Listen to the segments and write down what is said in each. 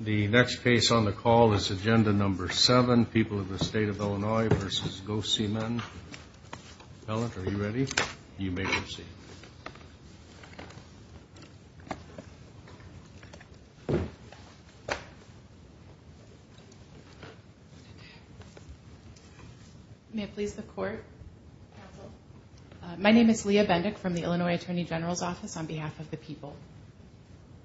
The next case on the call is agenda number seven, People of the State of Illinois v. Gocmen. Ellen, are you ready? You may proceed. May it please the Court? Counsel. My name is Leah Bendick from the Illinois Attorney General's Office on behalf of the people.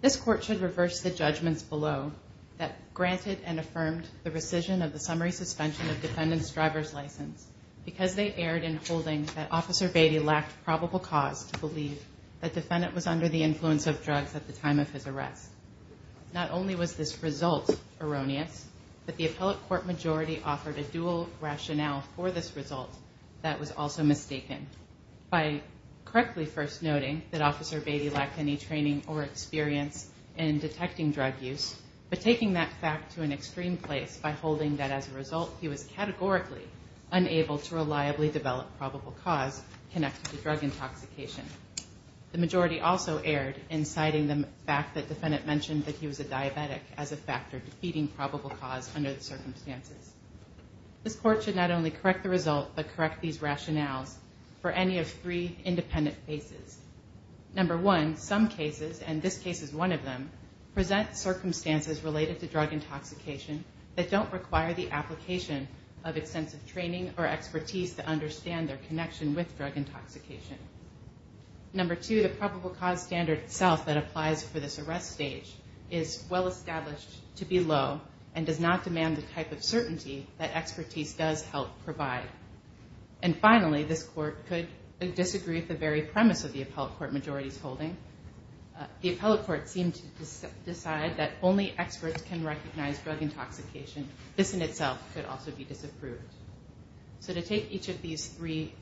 This Court should reverse the judgments below that granted and affirmed the rescission of the summary suspension of defendant's driver's license because they erred in holding that Officer Beatty lacked probable cause to believe that defendant was under the influence of drugs at the time of his arrest. Not only was this result erroneous, but the appellate court majority offered a dual rationale for this result that was also mistaken. By correctly first noting that Officer Beatty lacked any training or experience in detecting drug use, but taking that fact to an extreme place by holding that as a result he was categorically unable to reliably develop probable cause connected to drug intoxication. The majority also erred in citing the fact that defendant mentioned that he was a diabetic as a factor defeating probable cause under the circumstances. This Court should not only correct the result, but correct these rationales for any of three independent cases. Number one, some cases, and this case is one of them, present circumstances related to drug intoxication that don't require the application of extensive training or expertise to understand their connection with drug intoxication. Number two, the probable cause standard itself that applies for this arrest stage is well established to be low and does not demand the type of certainty that expertise does help provide. And finally, this Court could disagree with the very premise of the appellate court majority's holding. The appellate court seemed to decide that only experts can recognize drug intoxication. This in itself could also be disapproved. So to take each of these three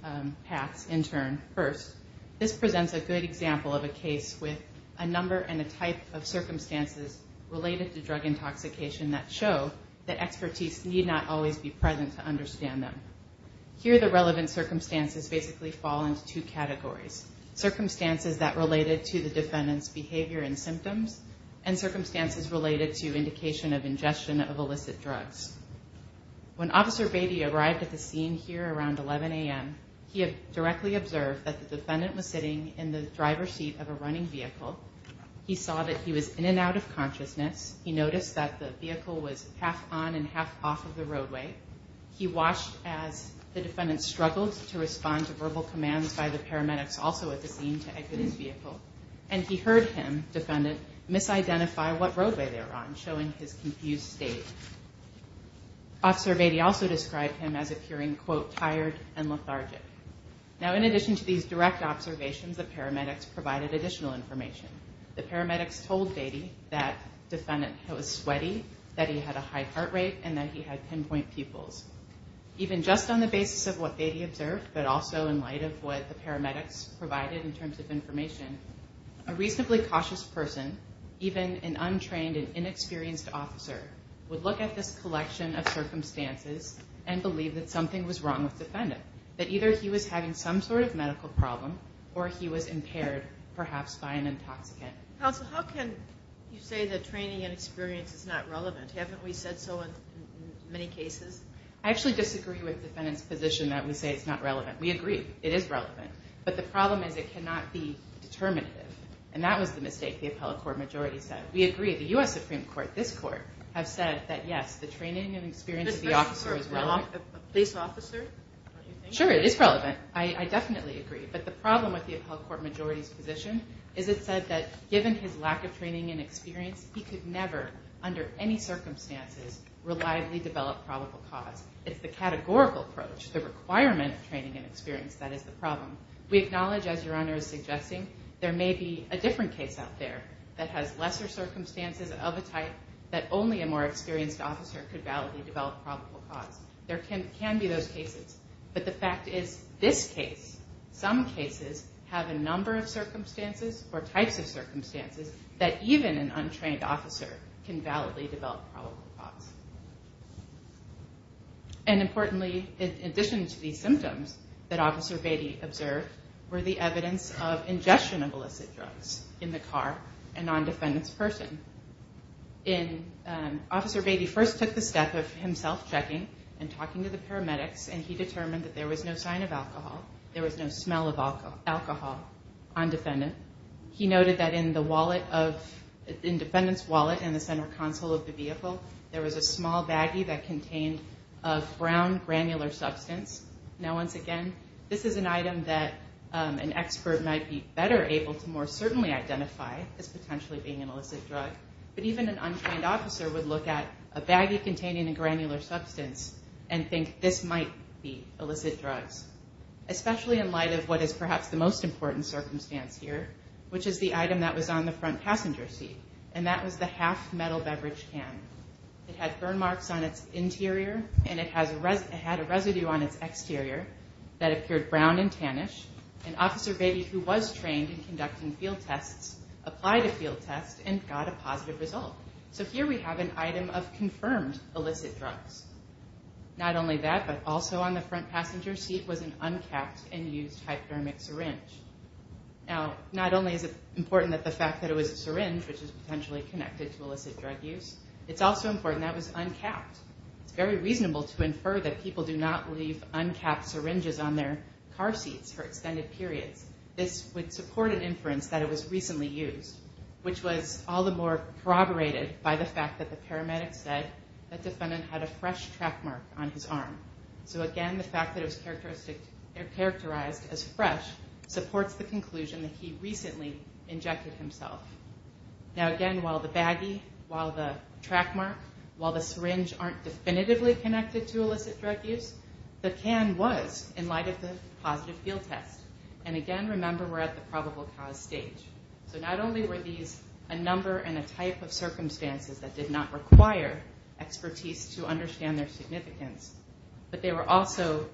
paths in turn first, this presents a good example of a case with a number and a type of circumstances related to drug intoxication that show that expertise need not always be present to understand them. Here the relevant circumstances basically fall into two categories. Circumstances that related to the defendant's behavior and symptoms and circumstances related to indication of ingestion of illicit drugs. When Officer Beatty arrived at the scene here around 11 a.m., he had directly observed that the defendant was sitting in the driver's seat of a running vehicle. He saw that he was in and out of consciousness. He noticed that the vehicle was half on and half off of the roadway. He watched as the defendant struggled to respond to verbal commands by the paramedics also at the scene to exit his vehicle. And he heard him, defendant, misidentify what roadway they were on, showing his confused state. Officer Beatty also described him as appearing, quote, tired and lethargic. Now in addition to these direct observations, the paramedics provided additional information. The paramedics told Beatty that defendant was sweaty, that he had a high heart rate, and that he had pinpoint pupils. Even just on the basis of what Beatty observed, but also in light of what the paramedics provided in terms of information, a reasonably cautious person, even an untrained and inexperienced officer, would look at this collection of circumstances and believe that something was wrong with the defendant, that either he was having some sort of medical problem or he was impaired, perhaps by an intoxicant. Counsel, how can you say that training and experience is not relevant? Haven't we said so in many cases? I actually disagree with the defendant's position that we say it's not relevant. We agree it is relevant. But the problem is it cannot be determinative. And that was the mistake the appellate court majority said. We agree. The U.S. Supreme Court, this court, have said that, yes, the training and experience of the officer is relevant. A police officer? Sure, it is relevant. I definitely agree. But the problem with the appellate court majority's position is it said that given his lack of training and experience, he could never, under any circumstances, reliably develop probable cause. It's the categorical approach, the requirement of training and experience that is the problem. We acknowledge, as Your Honor is suggesting, there may be a different case out there that has lesser circumstances of a type that only a more experienced officer could validly develop probable cause. There can be those cases. But the fact is this case, some cases, have a number of circumstances or types of circumstances that even an untrained officer can validly develop probable cause. And importantly, in addition to these symptoms that Officer Beatty observed, were the evidence of ingestion of illicit drugs in the car and on defendant's person. Officer Beatty first took the step of himself checking and talking to the paramedics, and he determined that there was no sign of alcohol. There was no smell of alcohol on defendant. He noted that in defendant's wallet in the center console of the vehicle, there was a small baggie that contained a brown granular substance. Now, once again, this is an item that an expert might be better able to more certainly identify as potentially being an illicit drug. But even an untrained officer would look at a baggie containing a granular substance and think this might be illicit drugs, especially in light of what is perhaps the most important circumstance here, which is the item that was on the front passenger seat, and that was the half-metal beverage can. It had burn marks on its interior, and it had a residue on its exterior that appeared brown and tannish. And Officer Beatty, who was trained in conducting field tests, applied a field test and got a positive result. So here we have an item of confirmed illicit drugs. Not only that, but also on the front passenger seat was an uncapped and used hypodermic syringe. Now, not only is it important that the fact that it was a syringe, which is potentially connected to illicit drug use, it's also important that it was uncapped. It's very reasonable to infer that people do not leave uncapped syringes on their car seats for extended periods. This would support an inference that it was recently used, which was all the more corroborated by the fact that the paramedics said that the defendant had a fresh track mark on his arm. So again, the fact that it was characterized as fresh supports the conclusion that he recently injected himself. Now again, while the baggie, while the track mark, while the syringe aren't definitively connected to illicit drug use, the can was in light of the positive field test. And again, remember, we're at the probable cause stage. So not only were these a number and a type of circumstances that did not require expertise to understand their significance, but they were also,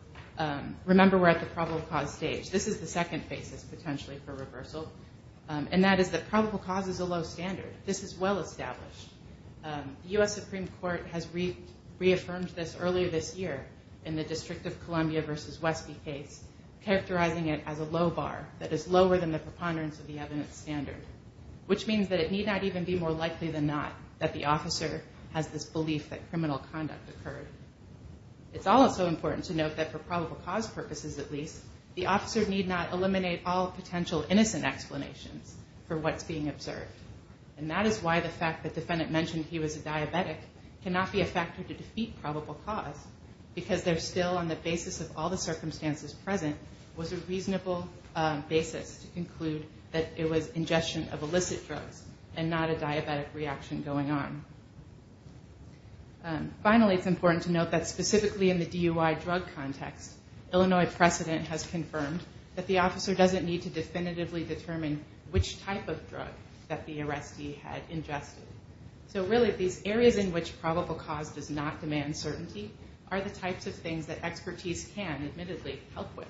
remember, we're at the probable cause stage. This is the second basis potentially for reversal. And that is that probable cause is a low standard. This is well established. The U.S. Supreme Court has reaffirmed this earlier this year in the District of Columbia versus Westby case, characterizing it as a low bar that is lower than the preponderance of the evidence standard, which means that it need not even be more likely than not that the officer has this belief that criminal conduct occurred. It's also important to note that for probable cause purposes at least, the officer need not eliminate all potential innocent explanations for what's being observed. And that is why the fact that the defendant mentioned he was a diabetic cannot be a factor to defeat probable cause, because they're still on the basis of all the circumstances present was a reasonable basis to conclude that it was ingestion of illicit drugs and not a diabetic reaction going on. Finally, it's important to note that specifically in the DUI drug context, Illinois precedent has confirmed that the officer doesn't need to definitively determine which type of drug that the arrestee had ingested. So really, these areas in which probable cause does not demand certainty are the types of things that expertise can admittedly help with.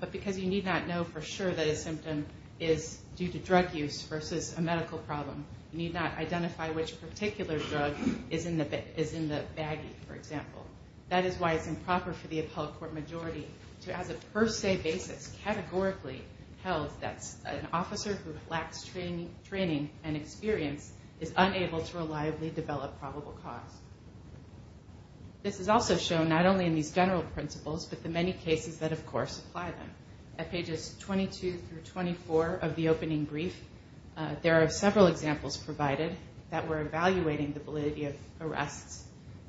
But because you need not know for sure that a symptom is due to drug use versus a medical problem, you need not identify which particular drug is in the baggie, for example. That is why it's improper for the appellate court majority to, as a per se basis, categorically held that an officer who lacks training and experience is unable to reliably develop probable cause. This is also shown not only in these general principles, but the many cases that, of course, apply them. At pages 22 through 24 of the opening brief, there are several examples provided that were evaluating the validity of arrests.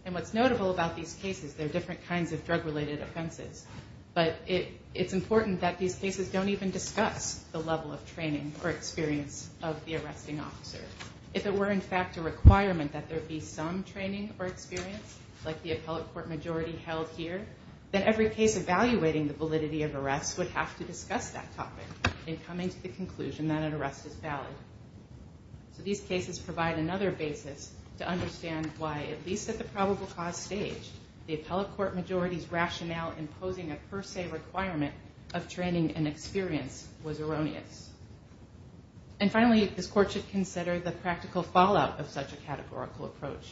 And what's notable about these cases, there are different kinds of drug-related offenses. But it's important that these cases don't even discuss the level of training or experience of the arresting officer. If it were, in fact, a requirement that there be some training or experience, like the appellate court majority held here, then every case evaluating the validity of arrests would have to discuss that topic in coming to the conclusion that an arrest is valid. So these cases provide another basis to understand why, at least at the probable cause stage, the appellate court majority's rationale imposing a per se requirement of training and experience was erroneous. And finally, this court should consider the practical fallout of such a categorical approach.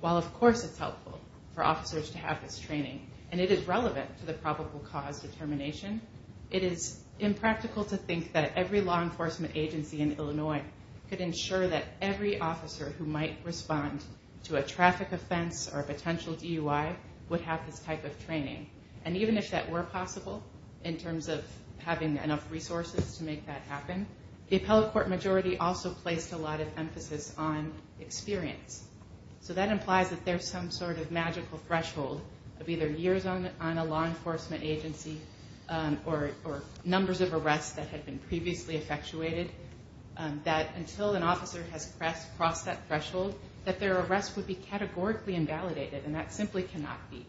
While, of course, it's helpful for officers to have this training, and it is relevant to the probable cause determination, it is impractical to think that every law enforcement agency in Illinois could ensure that every officer who might respond to a traffic offense or a potential DUI would have this type of training. And even if that were possible, in terms of having enough resources to make that happen, the appellate court majority also placed a lot of emphasis on experience. So that implies that there's some sort of magical threshold of either years on a law enforcement agency or numbers of arrests that had been previously effectuated, that until an officer has crossed that threshold, that their arrest would be categorically invalidated, and that simply cannot be.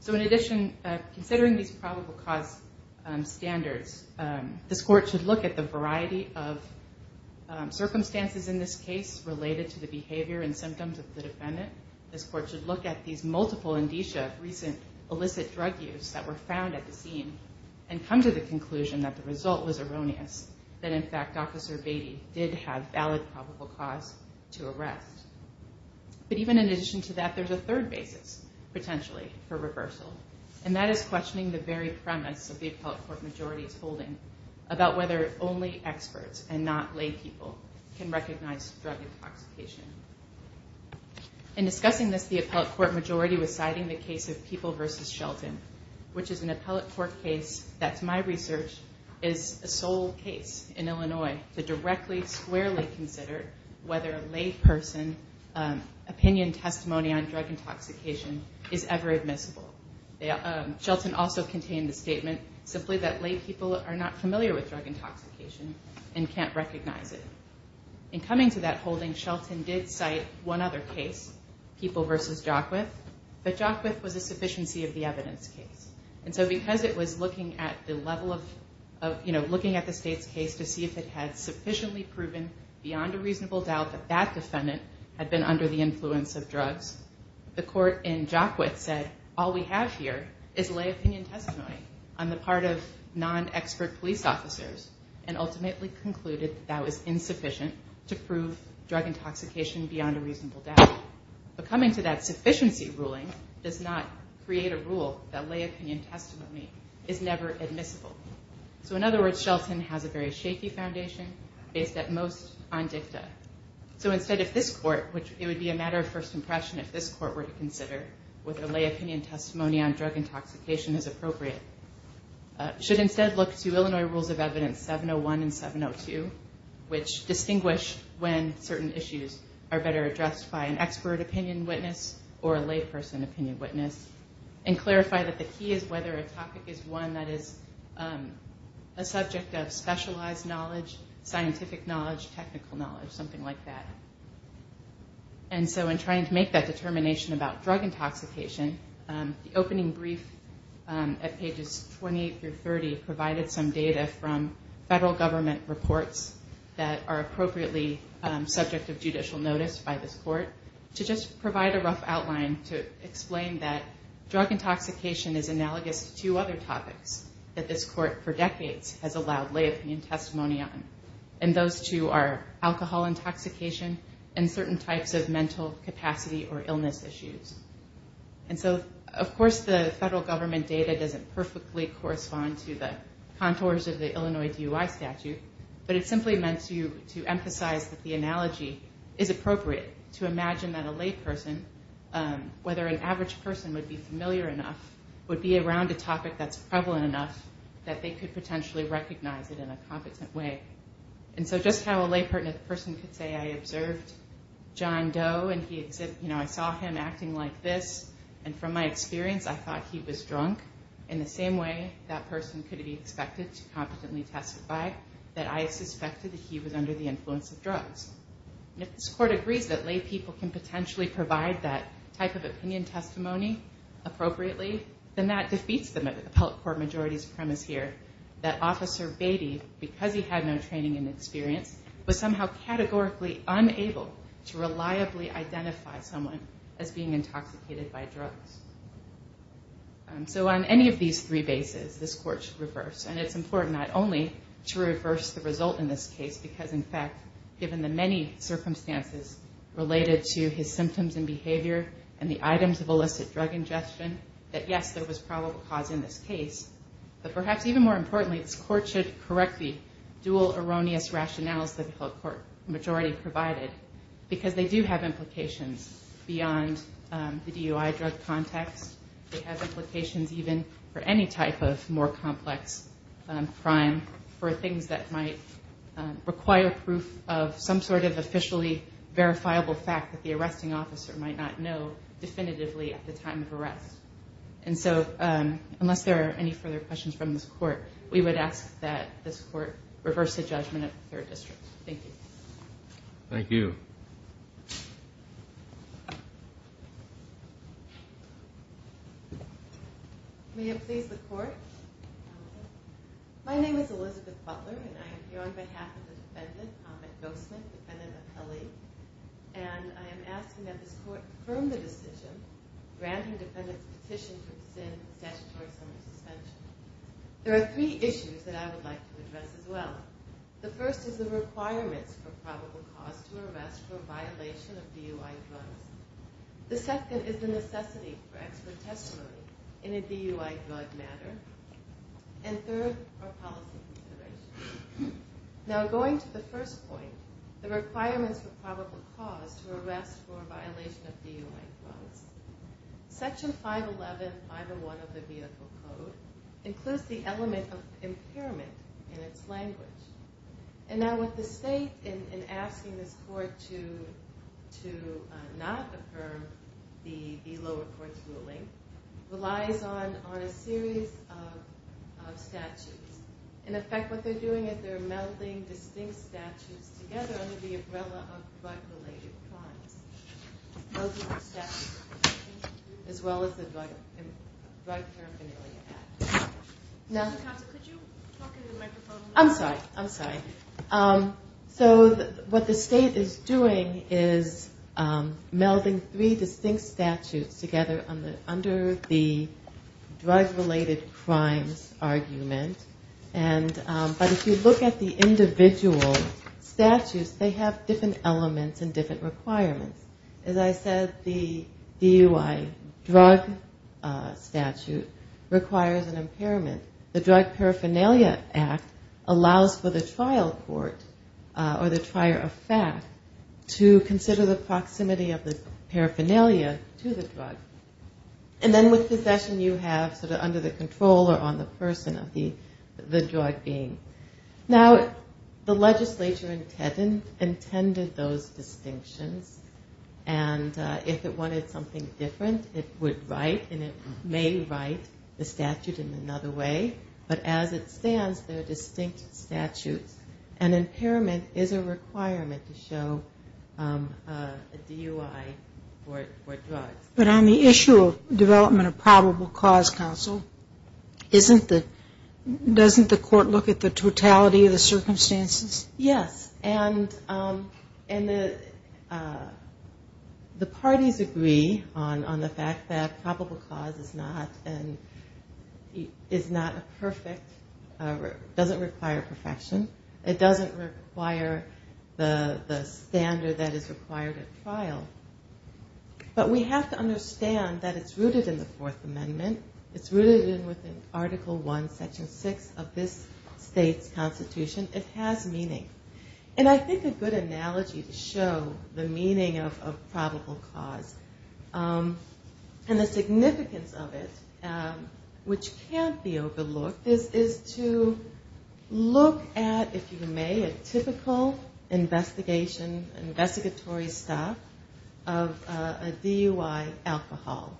So in addition, considering these probable cause standards, this court should look at the variety of circumstances in this case related to the behavior and symptoms of the defendant. This court should look at these multiple indicia of recent illicit drug use that were found at the scene But even in addition to that, there's a third basis, potentially, for reversal, and that is questioning the very premise of the appellate court majority's holding about whether only experts and not lay people can recognize drug intoxication. In discussing this, the appellate court majority was citing the case of People v. Shelton, which is an appellate court case that, to my research, is a sole case in Illinois to directly, squarely consider whether a lay person opinion testimony on drug intoxication is ever admissible. Shelton also contained the statement simply that lay people are not familiar with drug intoxication and can't recognize it. In coming to that holding, Shelton did cite one other case, People v. Jockwith, but Jockwith was a sufficiency of the evidence case. And so because it was looking at the level of, you know, looking at the state's case to see if it had sufficiently proven beyond a reasonable doubt that that defendant had been under the influence of drugs, the court in Jockwith said, all we have here is lay opinion testimony on the part of non-expert police officers and ultimately concluded that that was insufficient to prove drug intoxication beyond a reasonable doubt. But coming to that sufficiency ruling does not create a rule that lay opinion testimony is never admissible. So in other words, Shelton has a very shaky foundation based at most on dicta. So instead if this court, which it would be a matter of first impression if this court were to consider whether lay opinion testimony on drug intoxication is appropriate, should instead look to Illinois Rules of Evidence 701 and 702, which distinguish when certain issues are better addressed by an expert opinion witness or a lay person opinion witness, and clarify that the key is whether a topic is one that is a subject of specialized knowledge, scientific knowledge, technical knowledge, something like that. And so in trying to make that determination about drug intoxication, the opening brief at pages 28 through 30 provided some data from federal government reports that are appropriately subject of judicial notice by this court to just provide a rough outline to explain that drug intoxication is analogous to two other topics that this court for decades has allowed lay opinion testimony on. And those two are alcohol intoxication and certain types of mental capacity or illness issues. And so of course the federal government data doesn't perfectly correspond to the contours of the Illinois DUI statute, but it simply meant to emphasize that the analogy is appropriate to imagine that a lay person, whether an average person would be familiar enough, would be around a topic that's prevalent enough that they could potentially recognize it in a competent way. And so just how a lay person could say I observed John Doe and I saw him acting like this, and from my experience I thought he was drunk, in the same way that person could be expected to competently testify that I suspected that he was under the influence of drugs. And if this court agrees that lay people can potentially provide that type of opinion testimony appropriately, then that defeats the appellate court majority's premise here that Officer Beatty, because he had no training and experience, was somehow categorically unable to reliably identify someone as being intoxicated by drugs. So on any of these three bases, this court should reverse. And it's important not only to reverse the result in this case, because in fact given the many circumstances related to his symptoms and behavior and the items of illicit drug ingestion, that yes, there was probable cause in this case, but perhaps even more importantly this court should correct the dual erroneous rationales that the appellate court majority provided, because they do have implications beyond the DUI drug context. They have implications even for any type of more complex crime, for things that might require proof of some sort of officially verifiable fact that the arresting officer might not know definitively at the time of arrest. And so unless there are any further questions from this court, we would ask that this court reverse the judgment of the third district. Thank you. Thank you. May it please the court. My name is Elizabeth Butler, and I am here on behalf of the defendant, Ahmed Gossman, defendant appellee, and I am asking that this court affirm the decision granting defendant's petition to extend the statutory summer suspension. There are three issues that I would like to address as well. The first is the requirements for probable cause to arrest for a violation of DUI drugs. The second is the necessity for expert testimony in a DUI drug matter. And third are policy considerations. Now going to the first point, the requirements for probable cause to arrest for a violation of DUI drugs. Section 511, 501 of the vehicle code, includes the element of impairment in its language. And now what the state, in asking this court to not affirm the lower court's ruling, relies on a series of statutes. In effect, what they're doing is they're melding distinct statutes together under the umbrella of drug-related crimes. As well as the drug paraphernalia act. No? I'm sorry, I'm sorry. So what the state is doing is melding three distinct statutes together under the drug-related crimes argument. But if you look at the individual statutes, they have different elements and different requirements. As I said, the DUI drug statute requires an impairment. The drug paraphernalia act allows for the trial court or the trier of fact to consider the proximity of the paraphernalia to the drug. And then with possession you have sort of under the control or on the person of the drug being. Now the legislature intended those distinctions. And if it wanted something different, it would write and it may write the statute in another way. But as it stands, they're distinct statutes. And impairment is a requirement to show a DUI for drugs. But on the issue of development of probable cause counsel, doesn't the court look at the totality of the circumstances? Yes. And the parties agree on the fact that probable cause is not a perfect, doesn't require perfection. It doesn't require the standard that is required at trial. But we have to understand that it's rooted in the Fourth Amendment. It's rooted in Article I, Section 6 of this state's constitution. It has meaning. And I think a good analogy to show the meaning of probable cause and the significance of it, which can't be overlooked, is to look at, if you may, a typical investigation, an investigatory stop of a DUI alcohol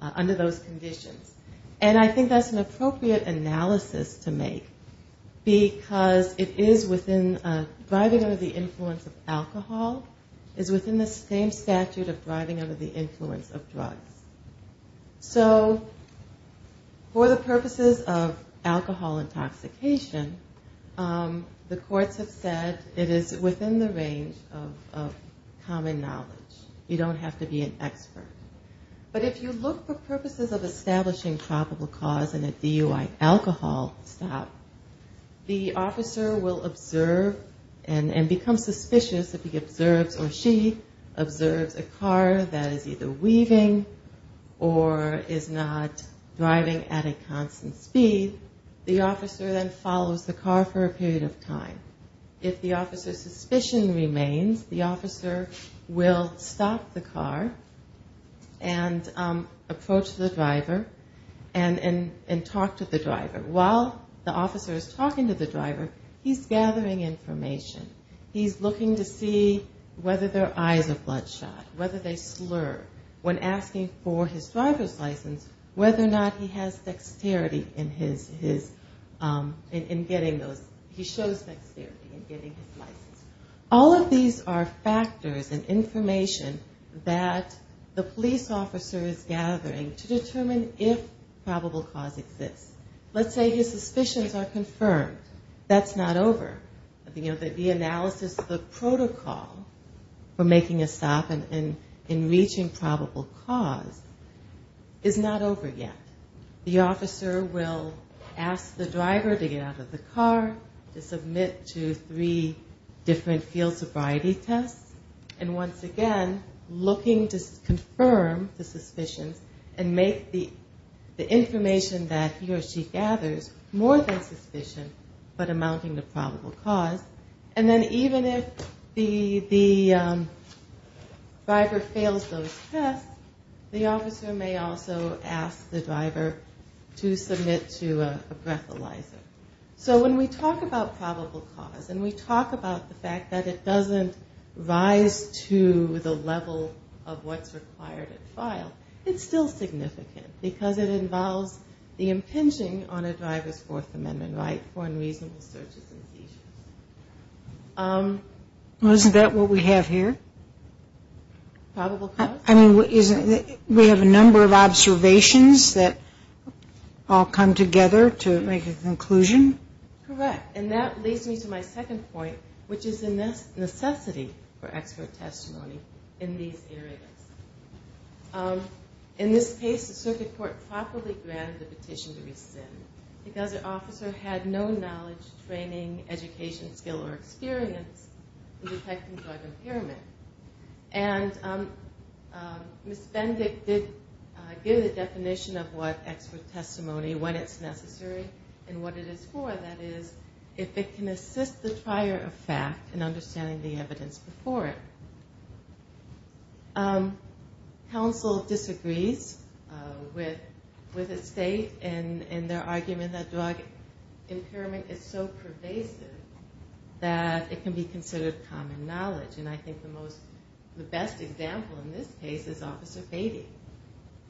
under those conditions. And I think that's an appropriate analysis to make, because it is within driving under the influence of alcohol, is within the same statute of driving under the influence of drugs. So for the purposes of alcohol intoxication, the courts have said it is within the range of common knowledge. You don't have to be an expert. But if you look for purposes of establishing probable cause in a DUI alcohol stop, the officer will observe and become suspicious if he observes or she observes a car that is either weaving or is not driving at a constant speed. The officer then follows the car for a period of time. If the officer's suspicion remains, the officer will stop the car and approach the driver and talk to the driver. While the officer is talking to the driver, he's gathering information. He's looking to see whether their eyes are bloodshot, whether they slur. When asking for his driver's license, whether or not he has dexterity in getting those, he shows dexterity in getting his license. All of these are factors and information that the police officer is gathering to determine if probable cause exists. Let's say his suspicions are confirmed. That's not over. The analysis of the protocol for making a stop and reaching probable cause is not over yet. The officer will ask the driver to get out of the car, to submit to three different field sobriety tests, and once again looking to confirm the suspicions and make the information that he or she gathers more than suspicion but amounting to probable cause. And then even if the driver fails those tests, the officer may also ask the driver to submit to a breathalyzer. So when we talk about probable cause and we talk about the fact that it doesn't rise to the level of what's required at file, it's still significant because it involves the impinging on a driver's Fourth Amendment right for unreasonable searches and seizures. Isn't that what we have here? We have a number of observations that all come together to make a conclusion. Correct. And that leads me to my second point, which is the necessity for expert testimony in these areas. In this case, the circuit court properly granted the petition to rescind because the officer had no knowledge, training, education, skill, or experience in detecting drug impairment. And Ms. Bendick did give the definition of what expert testimony, when it's necessary and what it is for, that is, if it can assist the trier of fact in understanding the evidence before it. Counsel disagrees with the state in their argument that drug impairment is so pervasive that it can be considered common knowledge. And I think the most, the best example in this case is Officer Beatty.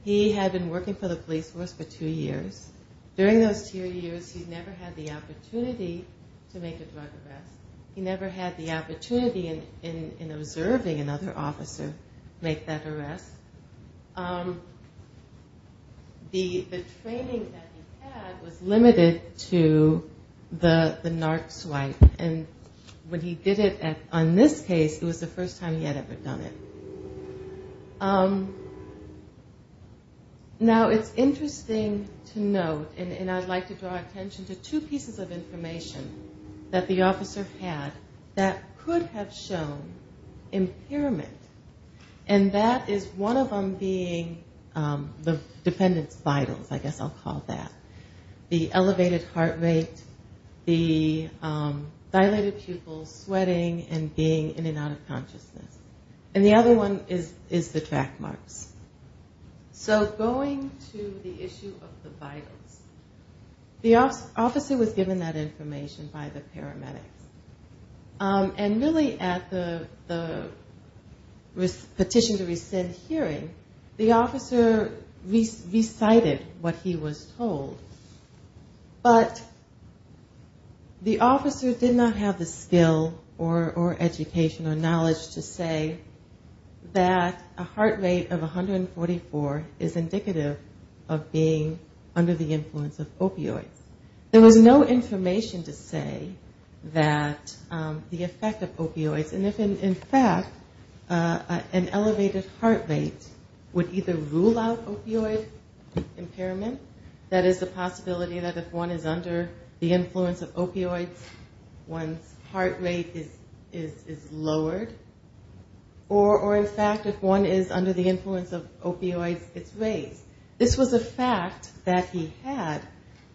He had been working for the police force for two years. During those two years, he never had the opportunity to make a drug arrest. He never had the opportunity in observing another officer make that arrest. The training that he had was limited to the NARC swipe. And when he did it on this case, it was the first time he had ever done it. Now, it's interesting to note, and I'd like to draw attention to two pieces of information that the officer had that could have shown impairment. And that is one of them being the defendant's vitals, I guess I'll call that. The elevated heart rate, the dilated pupils, sweating and being in and out of consciousness. And the other one is the track marks. So going to the issue of the vitals, the officer was given that information by the paramedics. And really at the petition to rescind hearing, the officer recited what he was told, but the officer did not have the skill or education or knowledge to say that a heart rate of 144 is indicative of being under the influence of opioids. There was no information to say that the effect of opioids, and if in fact an elevated heart rate would either rule out opioid impairment, that is the possibility that if one is under the influence of opioids, one's heart rate is lowered. Or in fact, if one is under the influence of opioids, it's raised. This was a fact that he had,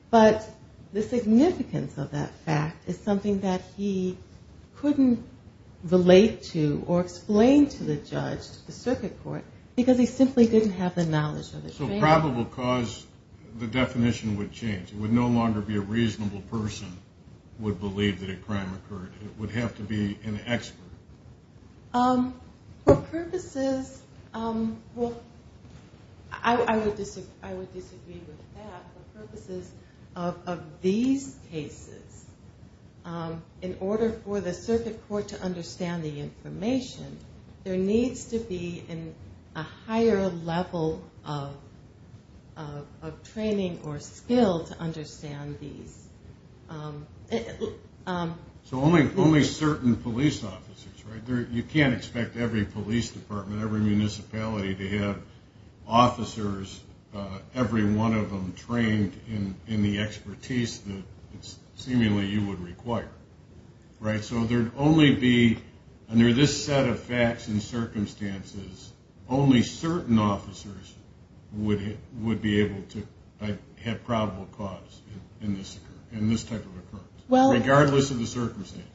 but the significance of that fact is something that he couldn't relate to or explain to the judge, the circuit court, because he simply didn't have the knowledge of it. So probable cause, the definition would change. It would no longer be a reasonable person would believe that a crime occurred. It would have to be an expert. I would disagree with that. For purposes of these cases, in order for the circuit court to understand the information, there needs to be a higher level of training or skill to understand these. So only certain police officers, right? You can't expect every police department, every municipality to have officers, every one of them trained in the expertise that seemingly you would require, right? So there'd only be, under this set of facts and circumstances, only certain officers would be able to have probable cause in this type of occurrence. Regardless of the circumstances.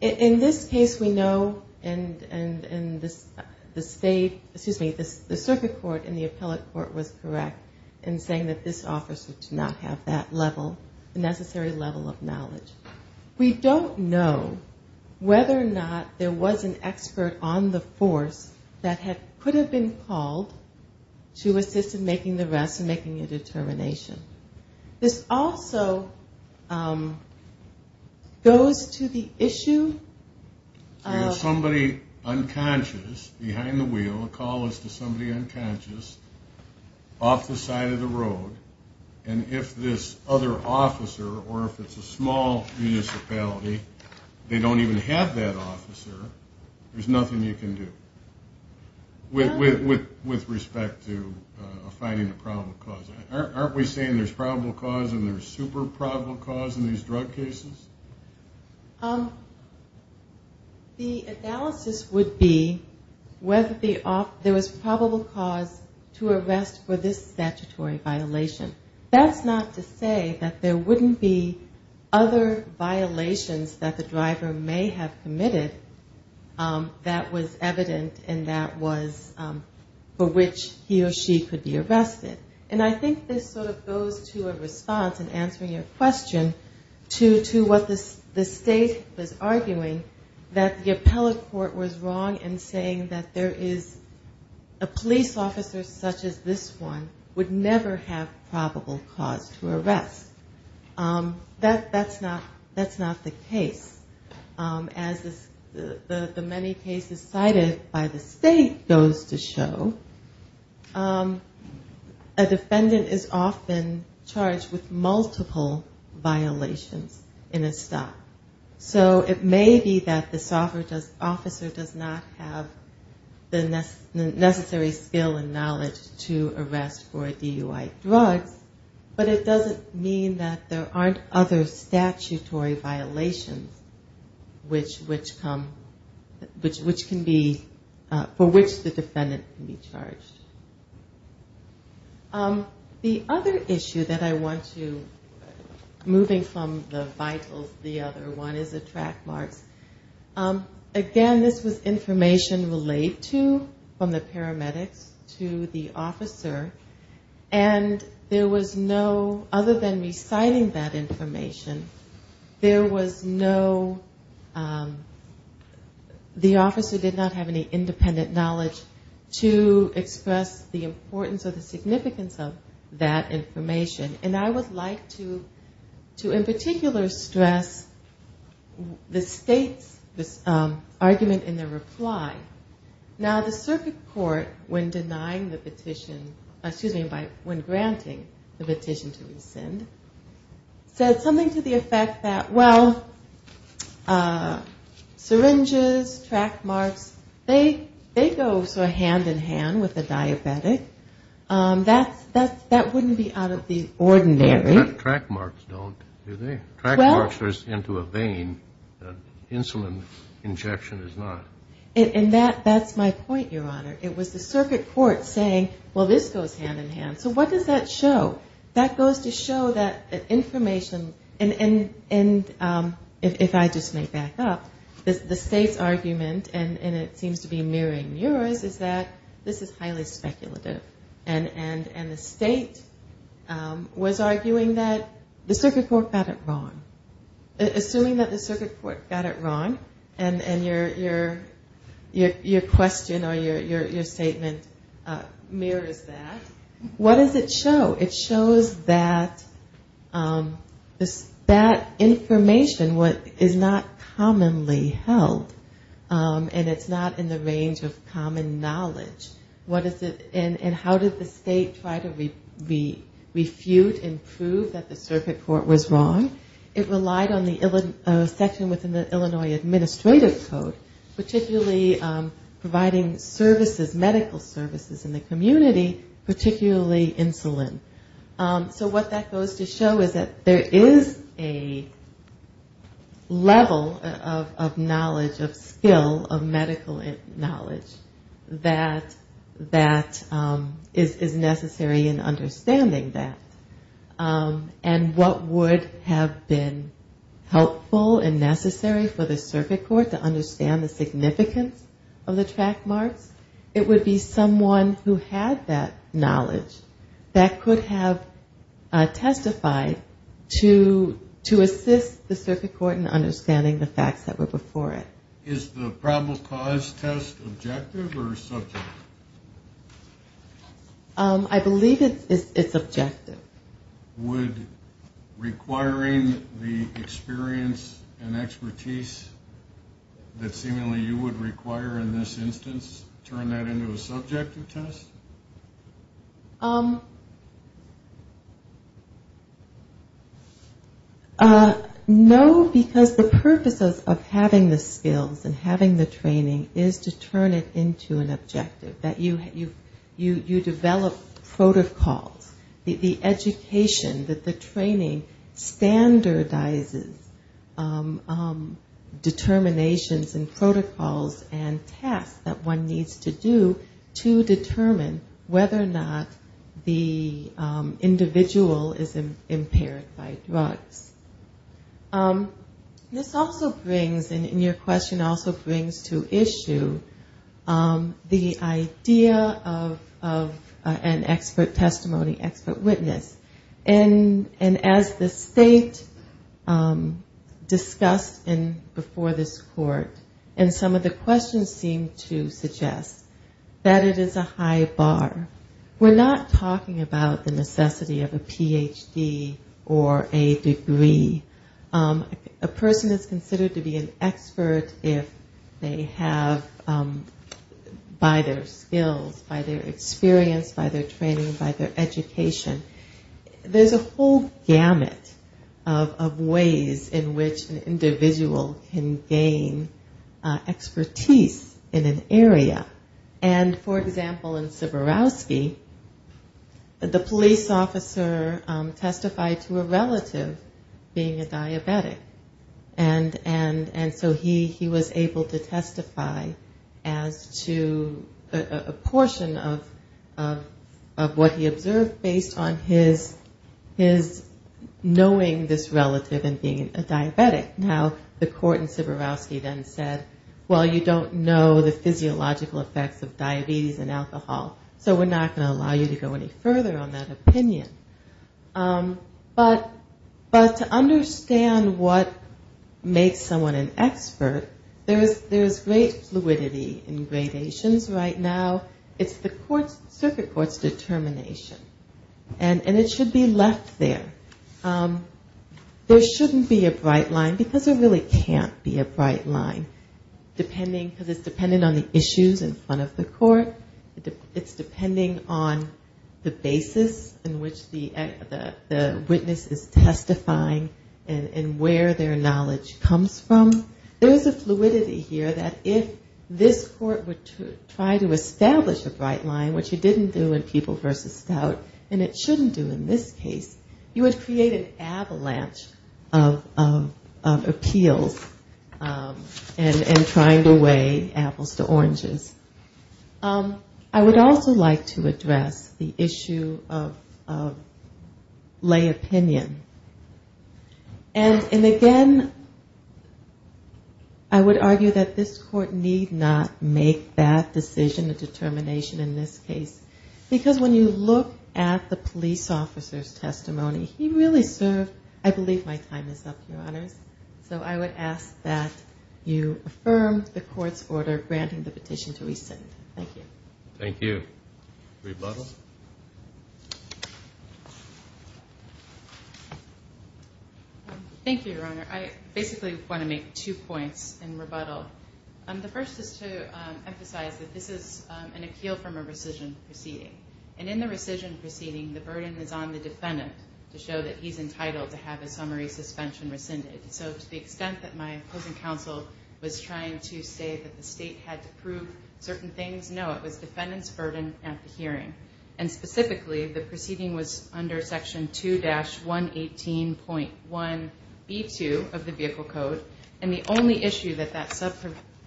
In this case we know, and the state, excuse me, the circuit court and the appellate court was correct in saying that this officer did not have that level, the necessary level of knowledge. We don't know whether or not there was an expert on the force that could have been called to assist in making the arrest and making a determination. This also goes to the issue of somebody unconscious, behind the wheel, a call is to somebody unconscious, off the side of the road, and if this other officer, or if it's a small municipality, they don't even have that officer, there's nothing you can do. With respect to finding a probable cause, aren't we saying there's probable cause and there's super probable cause in these drug cases? The analysis would be whether there was probable cause to arrest for this statutory violation. That's not to say that there wouldn't be other violations that the driver may have committed that was evident and that was for which he or she could be arrested. And I think this sort of goes to a response in answering your question to what the state was arguing, that the appellate court was wrong in saying that there is a police officer such as this one would never have probable cause to arrest. That's not the case. As the many cases cited by the state goes to show, a defendant is often charged with multiple violations in a stop. So it may be that the officer does not have the necessary skill and knowledge to arrest for a DUI drug, but it doesn't mean that there aren't other statutory violations for which the defendant can be charged. The other issue that I want to, moving from the vitals to the other one, is the track marks. Again, this was information related to, from the paramedics to the officer, and there was no, other than reciting that information, there was no, the officer did not have any independent knowledge to express the importance or the significance of that information. And I would like to in particular stress the state's argument in their reply. Now the circuit court, when denying the petition, excuse me, when granting the petition to rescind, said something to the effect that, well, syringes, track marks, they go hand in hand with the diabetic. That wouldn't be out of the ordinary. Track marks don't, do they? Track marks are into a vein. Insulin injection is not. And that's my point, Your Honor. It was the circuit court saying, well, this goes hand in hand. So what does that show? That goes to show that information, and if I just may back up, the state's argument, and it seems to be mirroring yours, is that this is highly speculative. And the state was arguing that the circuit court got it wrong. Assuming that the circuit court got it wrong, and your question or your statement mirrors that, what does it show? It shows that that information is not commonly held. And it's not in the range of common knowledge. And how did the state try to refute and prove that the circuit court was wrong? It relied on the section within the Illinois Administrative Code, particularly providing services, medical services in the community, particularly insulin. So what that goes to show is that there is a level of knowledge, of skill, of medical knowledge, that is necessary in helpful and necessary for the circuit court to understand the significance of the track marks. It would be someone who had that knowledge that could have testified to assist the circuit court in understanding the facts that were before it. Is the probable cause test objective or subjective? I believe it's objective. Would requiring the experience and expertise that seemingly you would require in this instance turn that into a subjective test? No, because the purpose of having the skills and having the training is to turn it into an objective. That you develop protocols. The education, that the training standardizes determinations and protocols and tasks that one needs to do to determine whether or not the individual is impaired by drugs. This also brings, and your question also brings to issue, the idea that there is a level of knowledge, of skill, of medical knowledge, that is necessary for the circuit court to understand the significance of the track marks. And as the state discussed before this court, and some of the questions seem to suggest, that it is a high bar. We're not talking about the necessity of a Ph.D. or a degree. A person is considered to be an expert if they have, by their skills. By their experience, by their training, by their education. There's a whole gamut of ways in which an individual can gain expertise in an area. And, for example, in Seborrowski, the police officer testified to a relative being a diabetic. And so he was able to testify as to a relative being a diabetic. And there was a proportion of what he observed based on his knowing this relative and being a diabetic. Now, the court in Seborrowski then said, well, you don't know the physiological effects of diabetes and alcohol. So we're not going to allow you to go any further on that opinion. But to understand what makes someone an expert, there is great fluidity in gradations right now. It's the circuit court's determination, and it should be left there. There shouldn't be a bright line, because there really can't be a bright line, because it's dependent on the issues in front of the court. It's depending on the basis in which the witness is testifying and where their knowledge comes from. There is a fluidity here that if this court were to try to establish a bright line, which it didn't do in People v. Stout, and it shouldn't do in this case, you would create an avalanche of appeals and trying to weigh apples to oranges. I would also like to address the issue of lay opinion. And again, I would argue that this court need not make that decision, a determination in this case, because when you look at the police officer's testimony, he really served, I believe my time is up, Your Honors. So I would ask that you affirm the court's order granting the petition to rescind. Thank you. Thank you, Your Honor. I basically want to make two points in rebuttal. The first is to emphasize that this is an appeal from a rescission proceeding. And in the rescission proceeding, the burden is on the defendant to show that he's entitled to have a summary suspension rescinded. So to the extent that my opposing counsel was trying to say that the state had to prove certain things, that was the 18.1B2 of the Vehicle Code, and the only issue that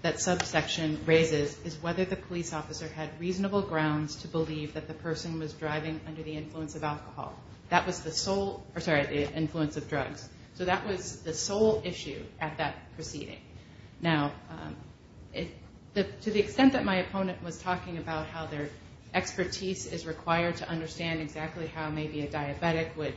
that subsection raises is whether the police officer had reasonable grounds to believe that the person was driving under the influence of alcohol. That was the sole, or sorry, the influence of drugs. So that was the sole issue at that proceeding. Now, to the extent that my opponent was talking about how their expertise is required to understand exactly how maybe a diabetic would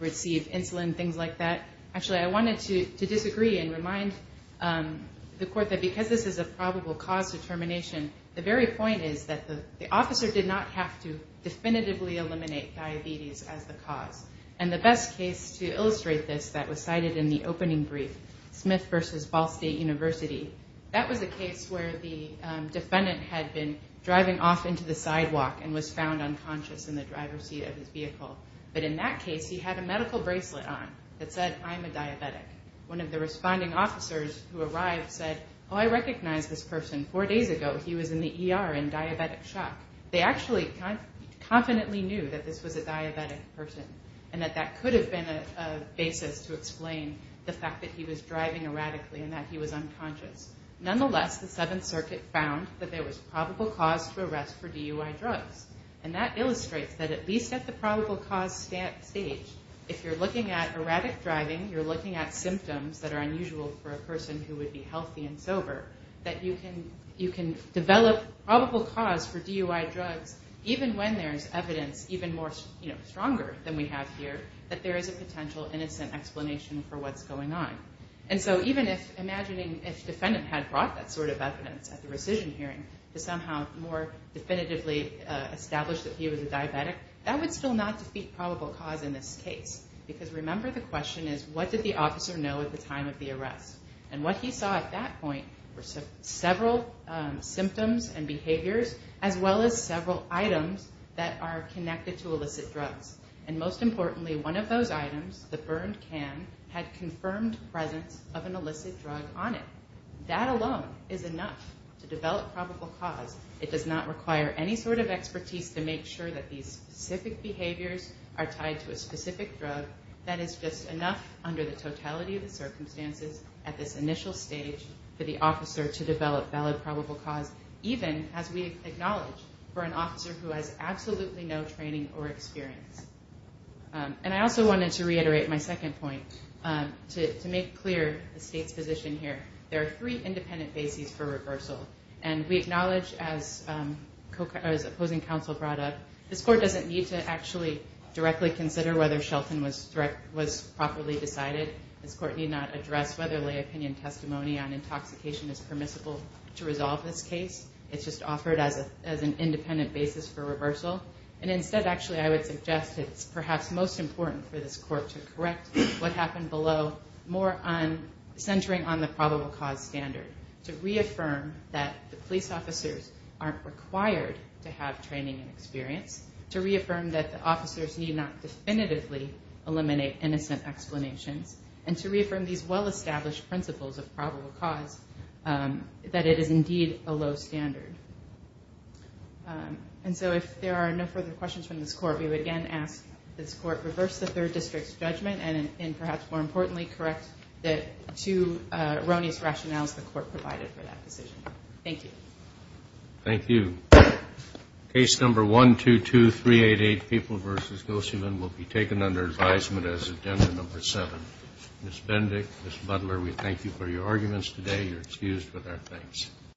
receive insulin, things like that. Actually, I wanted to disagree and remind the court that because this is a probable cause determination, the very point is that the officer did not have to definitively eliminate diabetes as the cause. And the best case to illustrate this that was cited in the opening brief, Smith v. Ball State University, that was a case where the defendant had been driving off into the sidewalk and was found unconscious in the driver's seat of his vehicle. But in that case, he had a medical bracelet on that said, I'm a diabetic. One of the responding officers who arrived said, oh, I recognize this person. Four days ago, he was in the ER in diabetic shock. They actually confidently knew that this was a diabetic person and that that could have been a basis to explain the fact that he was driving erratically and that he was unconscious. Nonetheless, the Seventh Circuit found that there was probable cause for arrest for DUI drugs. And that illustrates that at least at the probable cause stage, if you're looking at erratic driving, you're looking at symptoms that are unusual for a person who would be healthy and sober, that you can develop probable cause for DUI drugs even when there's evidence even more stronger than we have here that there is a potential innocent explanation for what's going on. And so even if imagining if defendant had brought that sort of evidence at the rescission hearing to somehow more definitively establish that he was a diabetic, that would still not defeat probable cause in this case. Because remember, the question is, what did the officer know at the time of the arrest? And what he saw at that point were several symptoms and behaviors, as well as several items that are connected to illicit drugs. And most importantly, one of those items, the burned can, had confirmed presence of an illicit drug on it. That alone is enough to develop probable cause. It does not require any sort of expertise to make sure that these specific behaviors are tied to a specific drug. That is just enough under the totality of the circumstances at this initial stage for the officer to develop valid probable cause, even, as we acknowledge, for an officer who has absolutely no training or experience. And I also wanted to reiterate my second point to make clear the State's position here. There are three independent bases for reversal. And we acknowledge, as opposing counsel brought up, this Court doesn't need to actually directly consider whether Shelton was properly decided. This Court need not address whether lay opinion testimony on intoxication is permissible to resolve this case. It's just offered as an independent basis for reversal. And instead, actually, I would suggest it's perhaps most important for this Court to correct what happened below, more on centering on the probable cause standard. To reaffirm that the police officers aren't required to have training and experience. To reaffirm that the officers need not definitively eliminate innocent explanations. And to reaffirm these well-established principles of probable cause, that it is indeed a low standard. And so if there are no further questions from this Court, we would again ask this Court reverse the Third District's judgment and perhaps, more importantly, correct the two erroneous rationales the Court provided for that decision. Thank you.